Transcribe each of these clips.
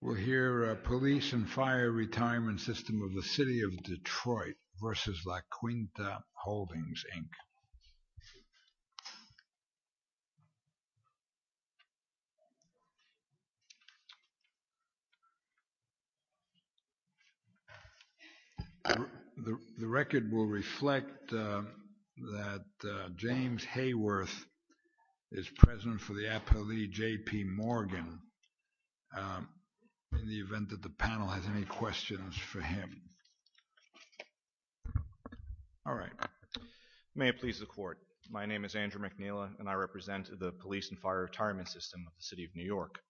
We'll hear Police and Fire Retirement System of the City of Detroit v. La Quinta Holdings, Inc. The record will reflect that James Hayworth is present for the appellee, J.P. Morgan, in the event that the panel has any questions for him. Andrew McNeila, P.A. May it please the Court, my name is Andrew McNeila and I represent the Police and Fire Retirement System of the City of New York.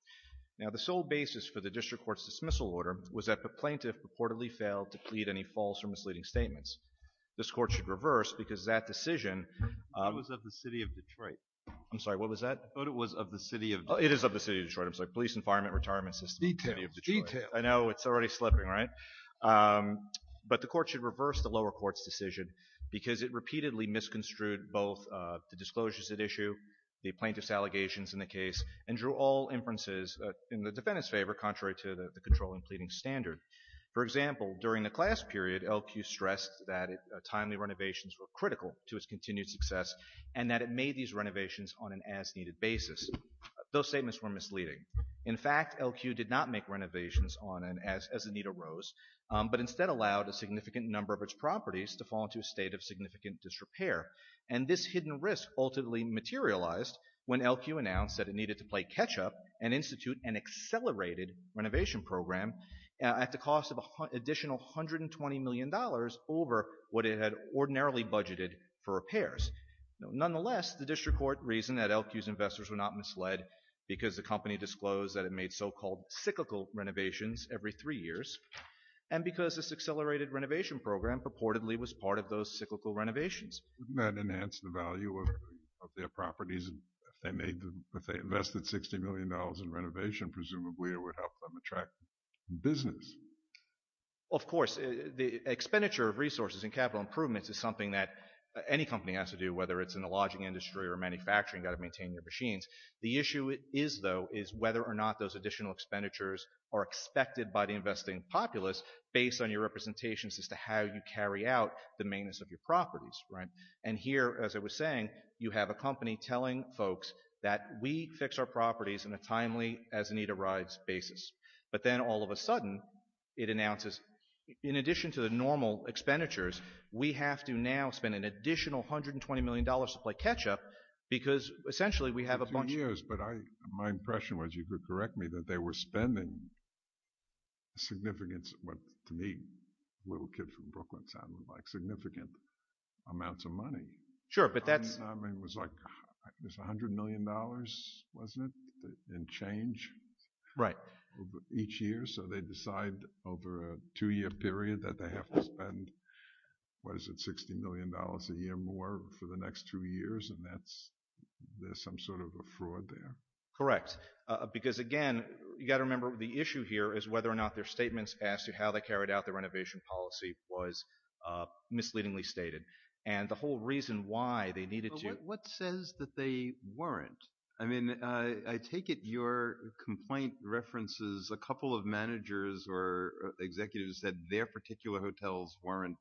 Now the sole basis for the District Court's dismissal order was that the plaintiff purportedly failed to plead any false or misleading statements. This Court should reverse because that decision... It was of the City of Detroit. I'm sorry, what was that? It was of the City of Detroit. It is of the City of Detroit, I'm sorry, Police and Fire Retirement System of the City of Detroit. Detail, detail. I know, it's already slipping, right? But the Court should reverse the lower court's decision because it repeatedly misconstrued both the disclosures at issue, the plaintiff's allegations in the case, and drew all inferences in the defendant's favor contrary to the controlling pleading standard. For example, during the class period, L.Q. stressed that timely renovations were critical to its continued success and that it made these renovations on an as-needed basis. Those statements were misleading. In fact, L.Q. did not make renovations on an as-needed rose, but instead allowed a significant number of its properties to fall into a state of significant disrepair. And this hidden risk ultimately materialized when L.Q. announced that it needed to play catch-up and institute an accelerated renovation program at the cost of an additional $120 million over what it had ordinarily budgeted for repairs. Nonetheless, the district court reasoned that L.Q.'s investors were not misled because the company disclosed that it made so-called cyclical renovations every three years and because this accelerated renovation program purportedly was part of those cyclical renovations. Wouldn't that enhance the value of their properties? If they invested $60 million in renovation, presumably it would help them attract business. Of course, the expenditure of resources and capital improvements is something that any company has to do, whether it's in the lodging industry or manufacturing. You've got to maintain your machines. The issue is, though, is whether or not those additional expenditures are expected by the investing populace based on your representations as to how you carry out the maintenance of your properties. And here, as I was saying, you have a company telling folks that we fix our properties on a timely, as-needed basis. But then, all of a sudden, it announces, in addition to the normal expenditures, we have to now spend an additional $120 million to play catch-up because, essentially, we have a bunch of— It's been two years, but my impression was, you could correct me, that they were spending significant—to me, a little kid from Brooklyn—significant amounts of money. Sure, but that's— I mean, it was like $100 million, wasn't it, in change? Right. Each year, so they decide over a two-year period that they have to spend, what is it, $60 million a year more for the next two years? And that's—there's some sort of a fraud there. Correct. Because, again, you've got to remember the issue here is whether or not their statements as to how they carried out the renovation policy was misleadingly stated. And the whole reason why they needed to— But what says that they weren't? I mean, I take it your complaint references a couple of managers or executives that their particular hotels weren't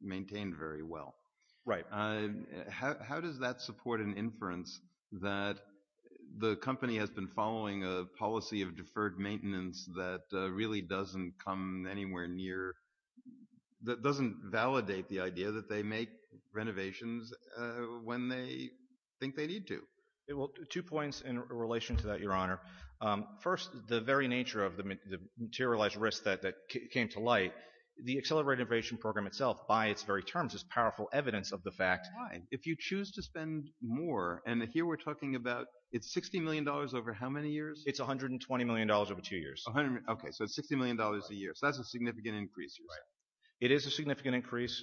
maintained very well. Right. How does that support an inference that the company has been following a policy of deferred maintenance that really doesn't come anywhere near—that doesn't validate the idea that they make renovations when they think they need to? Well, two points in relation to that, Your Honor. First, the very nature of the materialized risk that came to light, the accelerated renovation program itself by its very terms is powerful evidence of the fact— Why? If you choose to spend more, and here we're talking about—it's $60 million over how many years? It's $120 million over two years. Okay, so it's $60 million a year. So that's a significant increase. Right. It is a significant increase.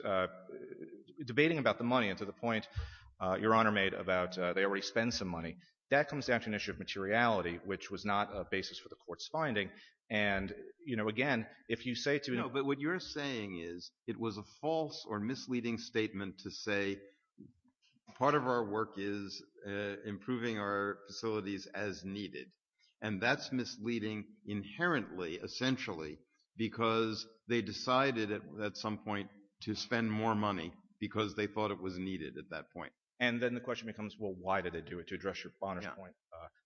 Debating about the money and to the point Your Honor made about they already spend some money, that comes down to an issue of materiality, which was not a basis for the court's finding. And, you know, again, if you say to— No, but what you're saying is it was a false or misleading statement to say part of our work is improving our facilities as needed, and that's misleading inherently, essentially, because they decided at some point to spend more money because they thought it was needed at that point. And then the question becomes, well, why did they do it? To address Your Honor's point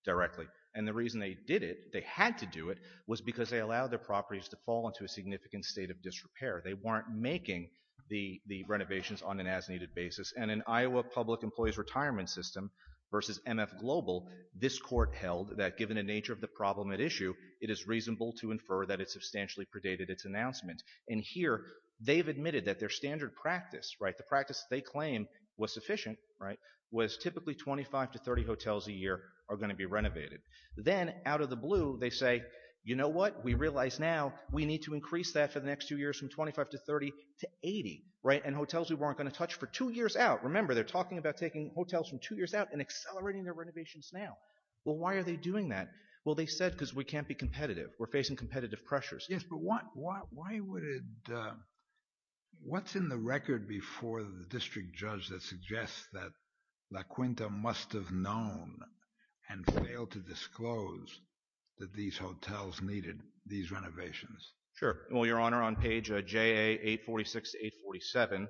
directly. And the reason they did it, they had to do it, was because they allowed their properties to fall into a significant state of disrepair. They weren't making the renovations on an as-needed basis. And in Iowa Public Employees Retirement System versus MF Global, this court held that given the nature of the problem at issue, it is reasonable to infer that it substantially predated its announcement. And here they've admitted that their standard practice, right, the practice they claim was sufficient, right, was typically 25 to 30 hotels a year are going to be renovated. Then out of the blue they say, you know what, we realize now we need to increase that for the next two years from 25 to 30 to 80, right, and hotels we weren't going to touch for two years out. Remember, they're talking about taking hotels from two years out and accelerating their renovations now. Well, why are they doing that? Well, they said because we can't be competitive. We're facing competitive pressures. Yes, but why would it – what's in the record before the district judge that suggests that La Quinta must have known and failed to disclose that these hotels needed these renovations? Sure. Well, Your Honor, on page JA846 to 847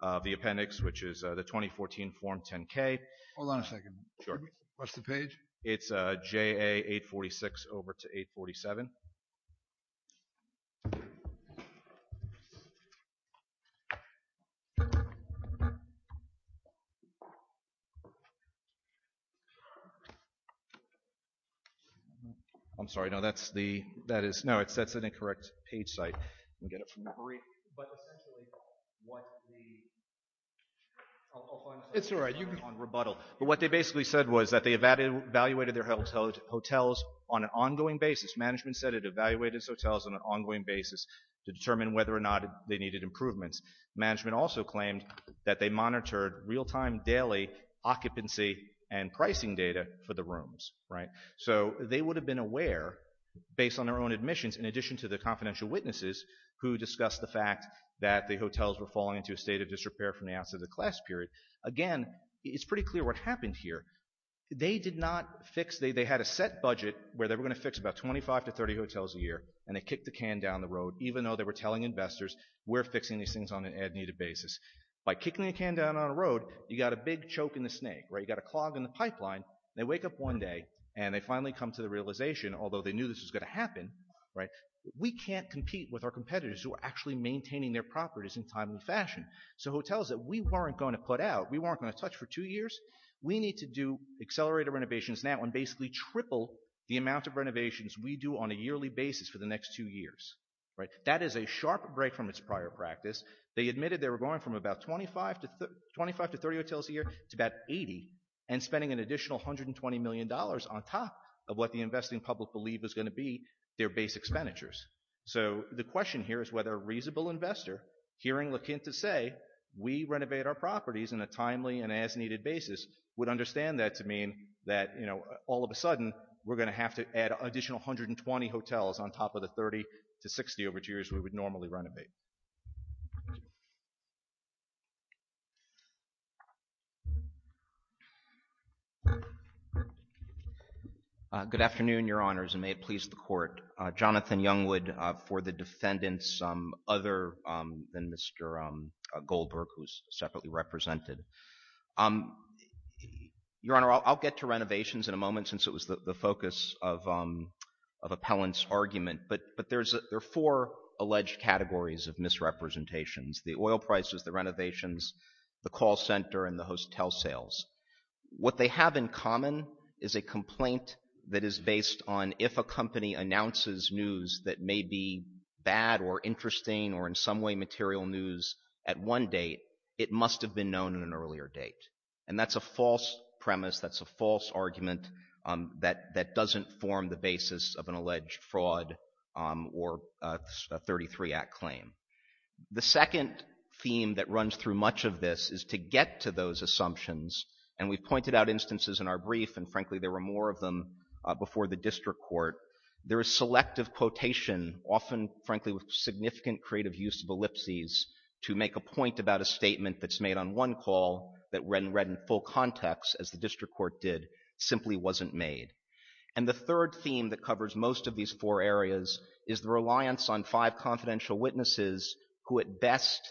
of the appendix, which is the 2014 Form 10-K. Hold on a second. Sure. What's the page? It's JA846 over to 847. I'm sorry. No, that's the – that is – no, that's an incorrect page site. We'll get it from the brief. But essentially what the – I'll find it. It's all right. You can – Well, what they basically said was that they evaluated their hotels on an ongoing basis. Management said it evaluated its hotels on an ongoing basis to determine whether or not they needed improvements. Management also claimed that they monitored real-time daily occupancy and pricing data for the rooms, right? So they would have been aware based on their own admissions in addition to the confidential witnesses who discussed the fact that the hotels were falling into a state of disrepair from the outset of the class period. Again, it's pretty clear what happened here. They did not fix – they had a set budget where they were going to fix about 25 to 30 hotels a year, and they kicked the can down the road even though they were telling investors we're fixing these things on an as-needed basis. By kicking the can down on a road, you got a big choke in the snake, right? You got a clog in the pipeline. They wake up one day, and they finally come to the realization, although they knew this was going to happen, right, we can't compete with our competitors who are actually maintaining their properties in timely fashion. So hotels that we weren't going to put out, we weren't going to touch for two years, we need to do accelerated renovations now and basically triple the amount of renovations we do on a yearly basis for the next two years. That is a sharp break from its prior practice. They admitted they were going from about 25 to 30 hotels a year to about 80 and spending an additional $120 million on top of what the investing public believed was going to be their base expenditures. So the question here is whether a reasonable investor hearing LeQuint to say we renovate our properties in a timely and as-needed basis would understand that to mean that all of a sudden we're going to have to add an additional 120 hotels on top of the 30 to 60 over two years we would normally renovate. Good afternoon, Your Honors, and may it please the Court. Jonathan Youngwood for the defendants other than Mr. Goldberg, who is separately represented. Your Honor, I'll get to renovations in a moment since it was the focus of appellant's argument, but there are four alleged categories of misrepresentations. The oil prices, the renovations, the call center, and the hotel sales. What they have in common is a complaint that is based on if a company announces news that may be bad or interesting or in some way material news at one date, it must have been known at an earlier date. And that's a false premise. That's a false argument that doesn't form the basis of an alleged fraud or a 33 Act claim. The second theme that runs through much of this is to get to those assumptions, and we've pointed out instances in our brief, and frankly there were more of them before the district court. There is selective quotation, often frankly with significant creative use of ellipses, to make a point about a statement that's made on one call that read and read in full context as the district court did, simply wasn't made. And the third theme that covers most of these four areas is the reliance on five confidential witnesses who at best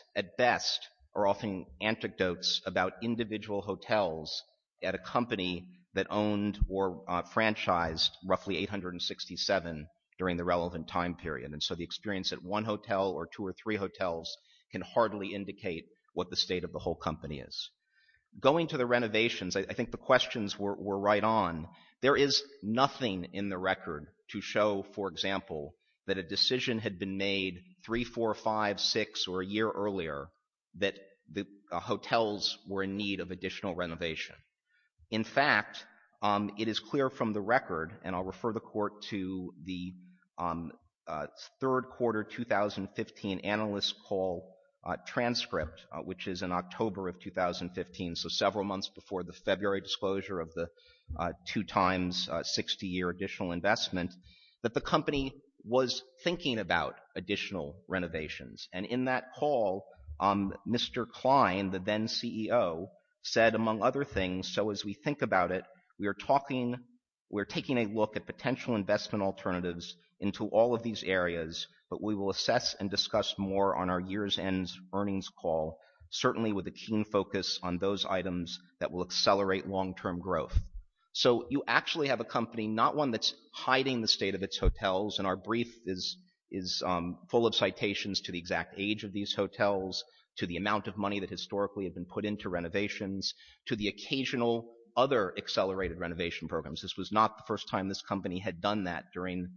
are offering anecdotes about individual hotels at a company that owned or franchised roughly 867 during the relevant time period. And so the experience at one hotel or two or three hotels can hardly indicate what the state of the whole company is. Going to the renovations, I think the questions were right on. There is nothing in the record to show, for example, that a decision had been made three, four, five, six or a year earlier that the hotels were in need of additional renovation. In fact, it is clear from the record, and I'll refer the court to the third quarter 2015 analyst call transcript, which is in October of 2015, so several months before the February disclosure of the two times 60 year additional investment, that the company was thinking about additional renovations. And in that call, Mr. Klein, the then CEO, said, among other things, so as we think about it, we are talking, we're taking a look at potential investment alternatives into all of these areas. But we will assess and discuss more on our year's end earnings call, certainly with a keen focus on those items that will accelerate long term growth. So you actually have a company, not one that's hiding the state of its hotels, and our brief is full of citations to the exact age of these hotels, to the amount of money that historically have been put into renovations, to the occasional other accelerated renovation programs. This was not the first time this company had done that during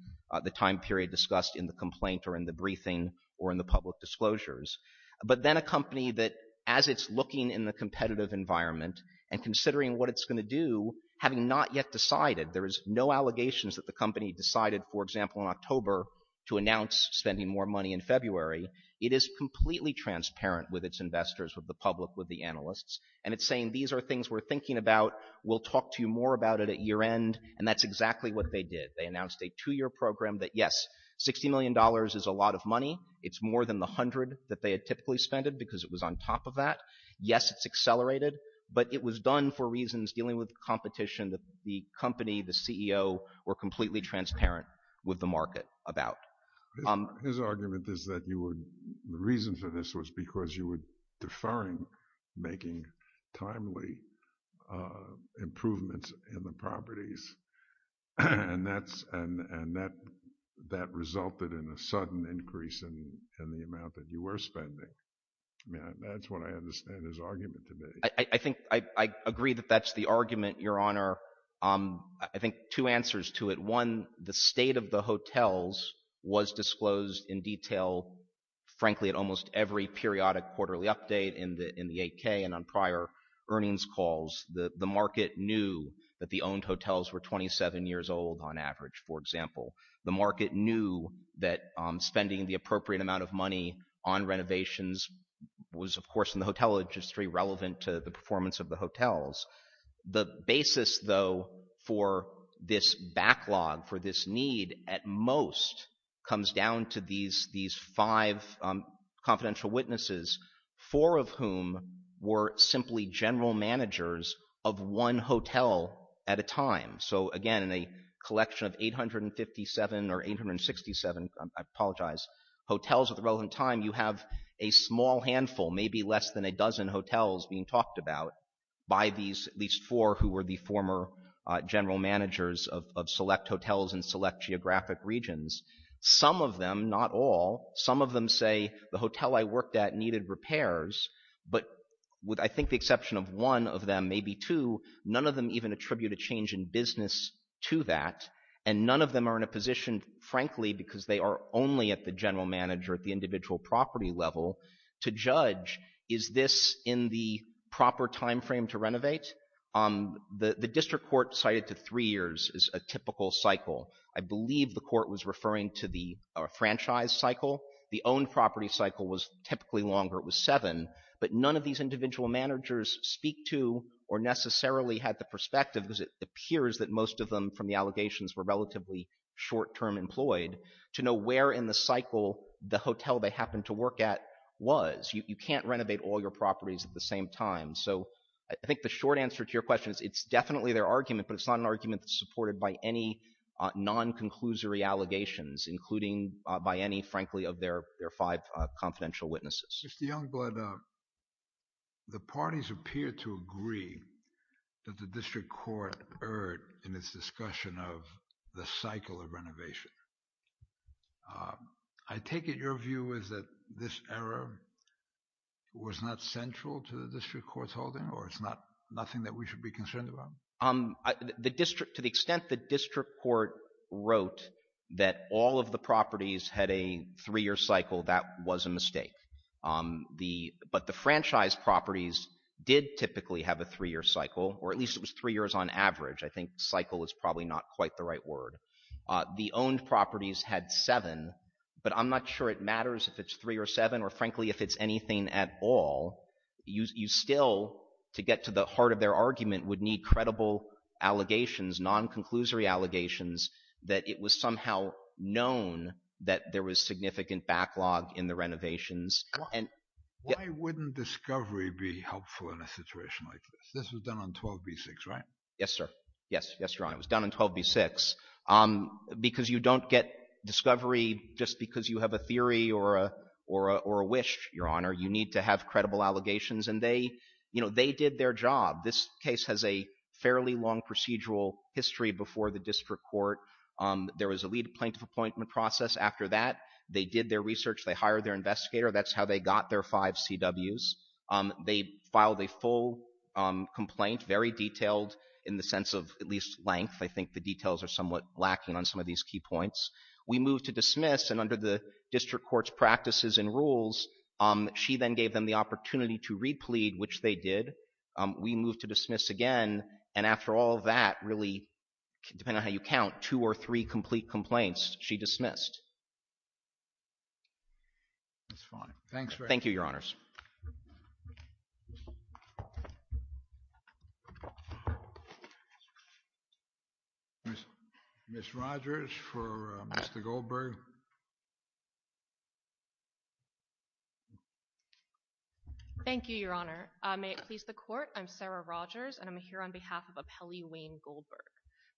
the time period discussed in the complaint or in the briefing or in the public disclosures. But then a company that, as it's looking in the competitive environment, and considering what it's going to do, having not yet decided, there is no allegations that the company decided, for example, in October, to announce spending more money in February. It is completely transparent with its investors, with the public, with the analysts, and it's saying, these are things we're thinking about, we'll talk to you more about it at year end, and that's exactly what they did. They announced a two-year program that, yes, $60 million is a lot of money. It's more than the hundred that they had typically spent because it was on top of that. Yes, it's accelerated, but it was done for reasons dealing with competition that the company, the CEO, were completely transparent with the market about. His argument is that the reason for this was because you were deferring making timely improvements in the properties, and that resulted in a sudden increase in the amount that you were spending. That's what I understand his argument to be. I agree that that's the argument, Your Honor. I think two answers to it. One, the state of the hotels was disclosed in detail, frankly, at almost every periodic quarterly update in the 8K and on prior earnings calls. The market knew that the owned hotels were 27 years old on average, for example. The market knew that spending the appropriate amount of money on renovations was, of course, in the hotel industry relevant to the performance of the hotels. The basis, though, for this backlog, for this need, at most, comes down to these five confidential witnesses, four of whom were simply general managers of one hotel at a time. So, again, in a collection of 857 or 867, I apologize, hotels at the relevant time, you have a small handful, maybe less than a dozen hotels being talked about by these at least four who were the former general managers of select hotels in select geographic regions. Some of them, not all, some of them say, the hotel I worked at needed repairs, but with, I think, the exception of one of them, maybe two, none of them even attribute a change in business to that. And none of them are in a position, frankly, because they are only at the general manager at the individual property level, to judge, is this in the proper time frame to renovate? The district court cited to three years is a typical cycle. I believe the court was referring to the franchise cycle. The owned property cycle was typically longer. It was seven. But none of these individual managers speak to or necessarily had the perspective, because it appears that most of them from the allegations were relatively short-term employed, to know where in the cycle the hotel they happened to work at was. You can't renovate all your properties at the same time. So I think the short answer to your question is it's definitely their argument, but it's not an argument that's supported by any non-conclusory allegations, including by any, frankly, of their five confidential witnesses. Mr. Youngblood, the parties appear to agree that the district court erred in its discussion of the cycle of renovation. I take it your view is that this error was not central to the district court's holding, or it's not nothing that we should be concerned about? To the extent the district court wrote that all of the properties had a three-year cycle, that was a mistake. But the franchise properties did typically have a three-year cycle, or at least it was three years on average. I think cycle is probably not quite the right word. The owned properties had seven, but I'm not sure it matters if it's three or seven, or frankly if it's anything at all. You still, to get to the heart of their argument, would need credible allegations, non-conclusory allegations, that it was somehow known that there was significant backlog in the renovations. Why wouldn't discovery be helpful in a situation like this? This was done on 12b6, right? Yes, sir. Yes, Your Honor. It was done on 12b6. Because you don't get discovery just because you have a theory or a wish, Your Honor. You need to have credible allegations, and they did their job. This case has a fairly long procedural history before the district court. There was a plaintiff appointment process after that. They did their research. They hired their investigator. That's how they got their five CWs. They filed a full complaint, very detailed in the sense of at least length. I think the details are somewhat lacking on some of these key points. We moved to dismiss, and under the district court's practices and rules, she then gave them the opportunity to replead, which they did. We moved to dismiss again, and after all of that, really, depending on how you count, two or three complete complaints, she dismissed. That's fine. Thanks very much. Thank you, Your Honors. Ms. Rodgers for Mr. Goldberg. Thank you, Your Honor. May it please the court, I'm Sarah Rodgers, and I'm here on behalf of Appellee Wayne Goldberg.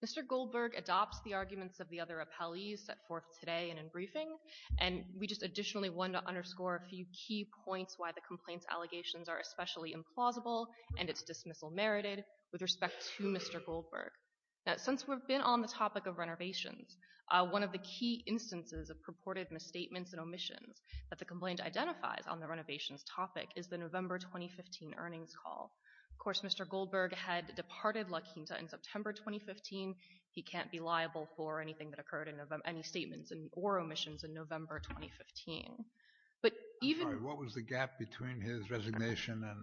Mr. Goldberg adopts the arguments of the other appellees set forth today and in briefing, and we just additionally want to underscore a few key points why the complaints allegations are especially implausible and it's dismissal merited with respect to Mr. Goldberg. Now, since we've been on the topic of renovations, one of the key instances of purported misstatements and omissions that the complaint identifies on the renovations topic is the November 2015 earnings call. Of course, Mr. Goldberg had departed La Quinta in September 2015. He can't be liable for anything that occurred in any statements or omissions in November 2015. I'm sorry, what was the gap between his resignation and...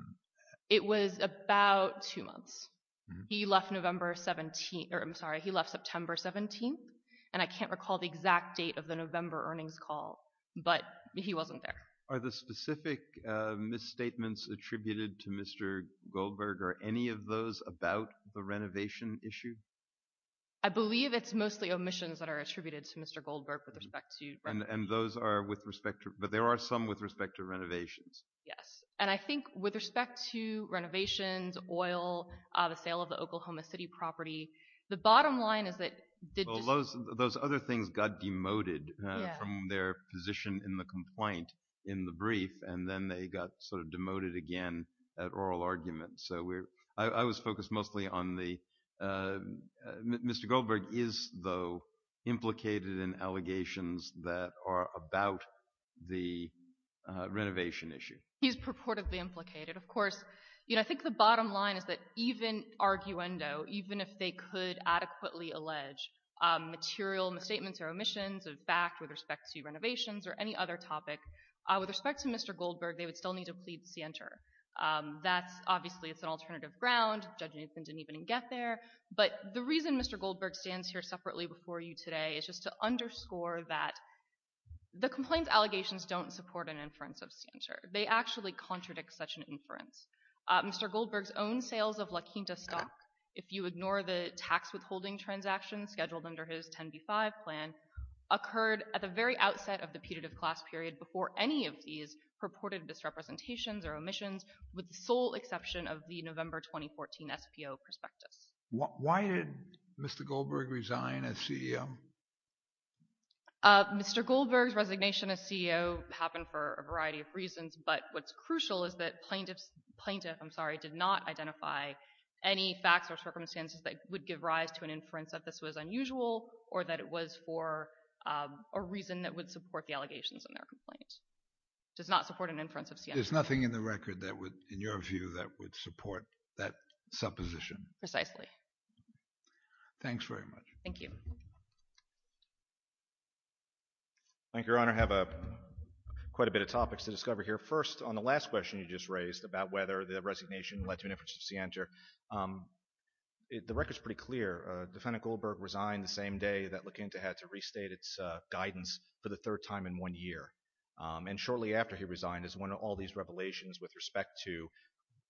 It was about two months. He left September 17th, and I can't recall the exact date of the November earnings call, but he wasn't there. Are the specific misstatements attributed to Mr. Goldberg or any of those about the renovation issue? I believe it's mostly omissions that are attributed to Mr. Goldberg with respect to... And those are with respect to, but there are some with respect to renovations. Yes, and I think with respect to renovations, oil, the sale of the Oklahoma City property, the bottom line is that... Those other things got demoted from their position in the complaint in the brief, and then they got sort of demoted again at oral argument. I was focused mostly on the... Mr. Goldberg is, though, implicated in allegations that are about the renovation issue. He's purportedly implicated. Of course, I think the bottom line is that even arguendo, even if they could adequately allege material misstatements or omissions of fact with respect to renovations or any other topic, with respect to Mr. Goldberg, they would still need to plead scienter. That's obviously, it's an alternative ground. Judge Nathan didn't even get there. But the reason Mr. Goldberg stands here separately before you today is just to underscore that the complaint allegations don't support an inference of scienter. They actually contradict such an inference. Mr. Goldberg's own sales of La Quinta stock, if you ignore the tax withholding transaction scheduled under his 10B5 plan, occurred at the very outset of the putative class period before any of these purported misrepresentations or omissions, with the sole exception of the November 2014 SPO prospectus. Why did Mr. Goldberg resign as CEO? Mr. Goldberg's resignation as CEO happened for a variety of reasons, but what's crucial is that plaintiffs, plaintiff, I'm sorry, did not identify any facts or circumstances that would give rise to an inference that this was unusual or that it was for a reason that would support the allegations in their complaint. It does not support an inference of scienter. There's nothing in the record that would, in your view, that would support that supposition. Precisely. Thanks very much. Thank you. Thank you, Your Honor. I have quite a bit of topics to discover here. First, on the last question you just raised about whether the resignation led to an inference of scienter, the record's pretty clear. Defendant Goldberg resigned the same day that La Quinta had to restate its guidance for the third time in one year, and shortly after he resigned is one of all these revelations with respect to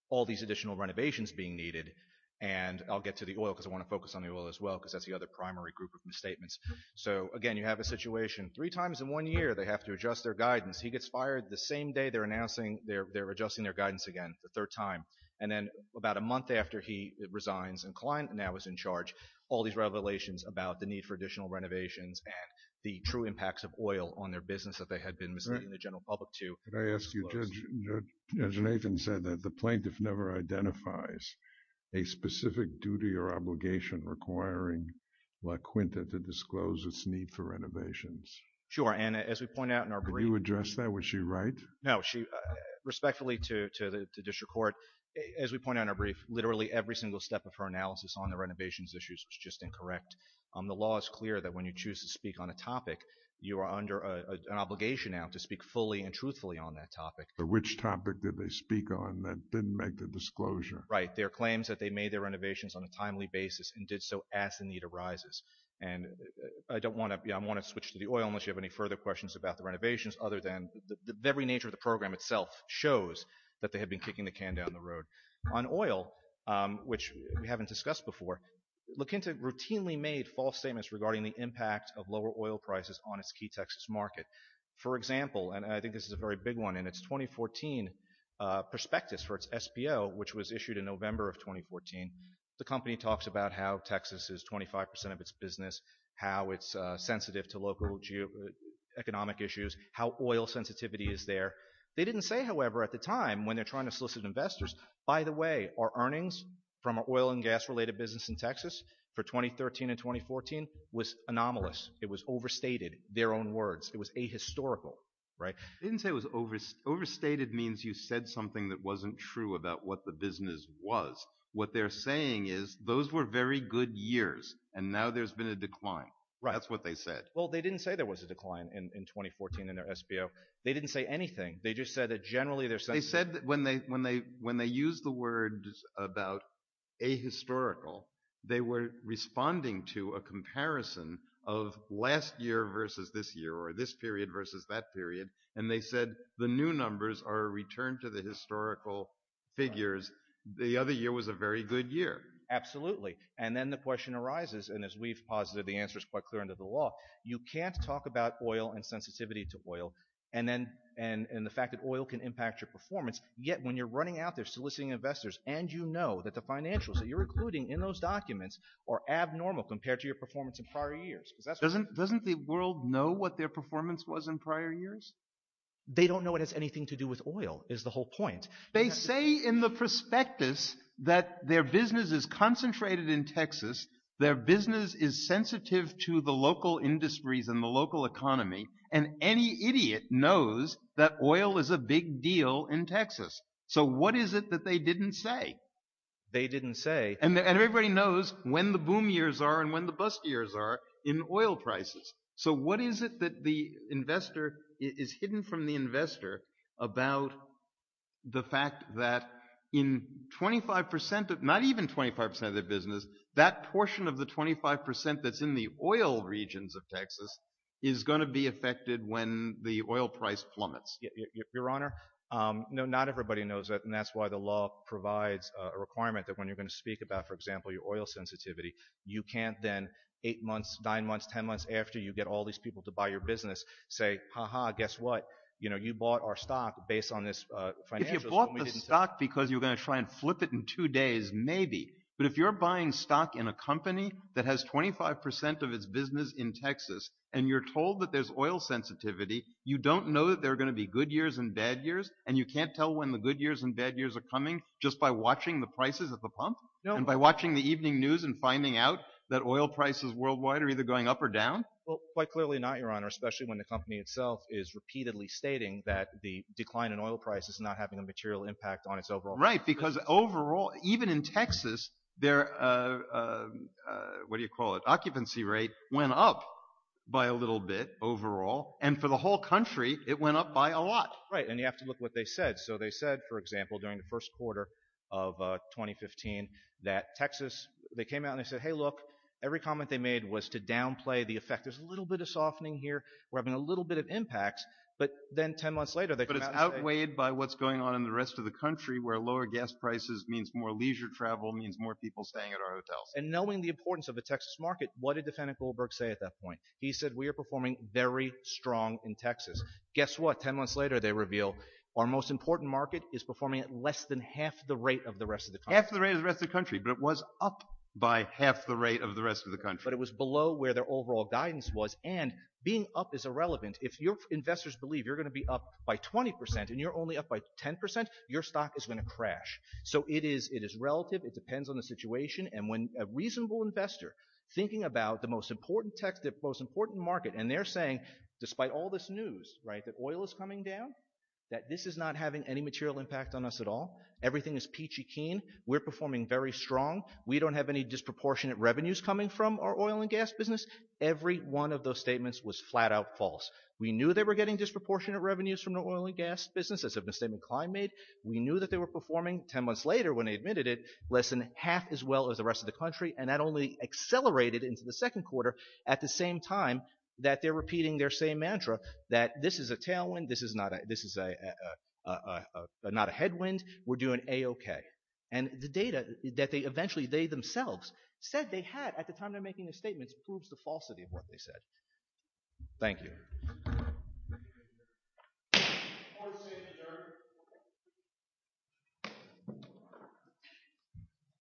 all these additional renovations being needed, and I'll get to the oil because I want to focus on the oil as well because that's the other primary group of misstatements. So, again, you have a situation, three times in one year they have to adjust their guidance. He gets fired the same day they're announcing they're adjusting their guidance again, the third time, and then about a month after he resigns, all these revelations about the need for additional renovations and the true impacts of oil on their business that they had been misleading the general public to. Can I ask you, Judge Nathan said that the plaintiff never identifies a specific duty or obligation requiring La Quinta to disclose its need for renovations. Sure, and as we point out in our brief... Could you address that? Was she right? No. Respectfully to the district court, as we point out in our brief, literally every single step of her analysis on the renovations issues was just incorrect. The law is clear that when you choose to speak on a topic, you are under an obligation now to speak fully and truthfully on that topic. But which topic did they speak on that didn't make the disclosure? Right. Their claims that they made their renovations on a timely basis and did so as the need arises, and I don't want to... I want to switch to the oil unless you have any further questions about the renovations other than the very nature of the program itself shows that they had been kicking the can down the road. On oil, which we haven't discussed before, La Quinta routinely made false statements regarding the impact of lower oil prices on its key Texas market. For example, and I think this is a very big one, in its 2014 prospectus for its SPO, which was issued in November of 2014, the company talks about how Texas is 25% of its business, how it's sensitive to local economic issues, how oil sensitivity is there. They didn't say, however, at the time when they're trying to solicit investors, by the way, our earnings from our oil and gas related business in Texas for 2013 and 2014 was anomalous. It was overstated, their own words. It was ahistorical, right? They didn't say it was overstated means you said something that wasn't true about what the business was. What they're saying is those were very good years, and now there's been a decline. That's what they said. Well, they didn't say there was a decline in 2014 in their SPO. They didn't say anything. They just said that generally they're sensitive. They said that when they used the word about ahistorical, they were responding to a comparison of last year versus this year or this period versus that period, and they said the new numbers are a return to the historical figures. The other year was a very good year. Absolutely, and then the question arises, and as we've posited, the answer is quite clear under the law. You can't talk about oil and sensitivity to oil and the fact that oil can impact your performance, yet when you're running out there soliciting investors and you know that the financials that you're including in those documents are abnormal compared to your performance in prior years. Doesn't the world know what their performance was in prior years? They don't know it has anything to do with oil is the whole point. They say in the prospectus that their business is concentrated in Texas, their business is sensitive to the local industries and the local economy, and any idiot knows that oil is a big deal in Texas. So what is it that they didn't say? They didn't say. And everybody knows when the boom years are and when the bust years are in oil prices. So what is it that the investor is hidden from the investor about the fact that in 25 percent, not even 25 percent of their business, that portion of the 25 percent that's in the oil regions of Texas is going to be affected when the oil price plummets? Your Honor, no, not everybody knows that, and that's why the law provides a requirement that when you're going to speak about, for example, your oil sensitivity, you can't then eight months, nine months, ten months after you get all these people to buy your business say, ha-ha, guess what, you know, you bought our stock based on this financial. If you bought the stock because you're going to try and flip it in two days, maybe. But if you're buying stock in a company that has 25 percent of its business in Texas and you're told that there's oil sensitivity, you don't know that there are going to be good years and bad years, and you can't tell when the good years and bad years are coming just by watching the prices at the pump and by watching the evening news and finding out that oil prices worldwide are either going up or down? Well, quite clearly not, Your Honor, especially when the company itself is repeatedly stating that the decline in oil prices is not having a material impact on its overall business. Right, because overall, even in Texas, their, what do you call it, occupancy rate went up by a little bit overall, and for the whole country, it went up by a lot. Right, and you have to look at what they said. So they said, for example, during the first quarter of 2015 that Texas, they came out and they said, hey, look, every comment they made was to downplay the effect. There's a little bit of softening here. We're having a little bit of impacts. But then 10 months later, they came out and said – But it's outweighed by what's going on in the rest of the country where lower gas prices means more leisure travel, means more people staying at our hotels. And knowing the importance of the Texas market, what did Defendant Goldberg say at that point? He said, we are performing very strong in Texas. Guess what? Ten months later, they reveal our most important market is performing at less than half the rate of the rest of the country. Half the rate of the rest of the country, but it was up by half the rate of the rest of the country. But it was below where their overall guidance was, and being up is irrelevant. If your investors believe you're going to be up by 20% and you're only up by 10%, your stock is going to crash. So it is relative. It depends on the situation. And when a reasonable investor, thinking about the most important market, and they're saying, despite all this news, right, that oil is coming down, that this is not having any material impact on us at all. Everything is peachy keen. We're performing very strong. We don't have any disproportionate revenues coming from our oil and gas business. Every one of those statements was flat-out false. We knew they were getting disproportionate revenues from the oil and gas business. That's a misstatement Klein made. We knew that they were performing, ten months later when they admitted it, less than half as well as the rest of the country, and that only accelerated into the second quarter at the same time that they're repeating their same mantra that this is a tailwind. This is not a headwind. We're doing A-okay. And the data that they eventually, they themselves, said they had at the time they were making their statements proves the falsity of what they said. Thank you. Thank you.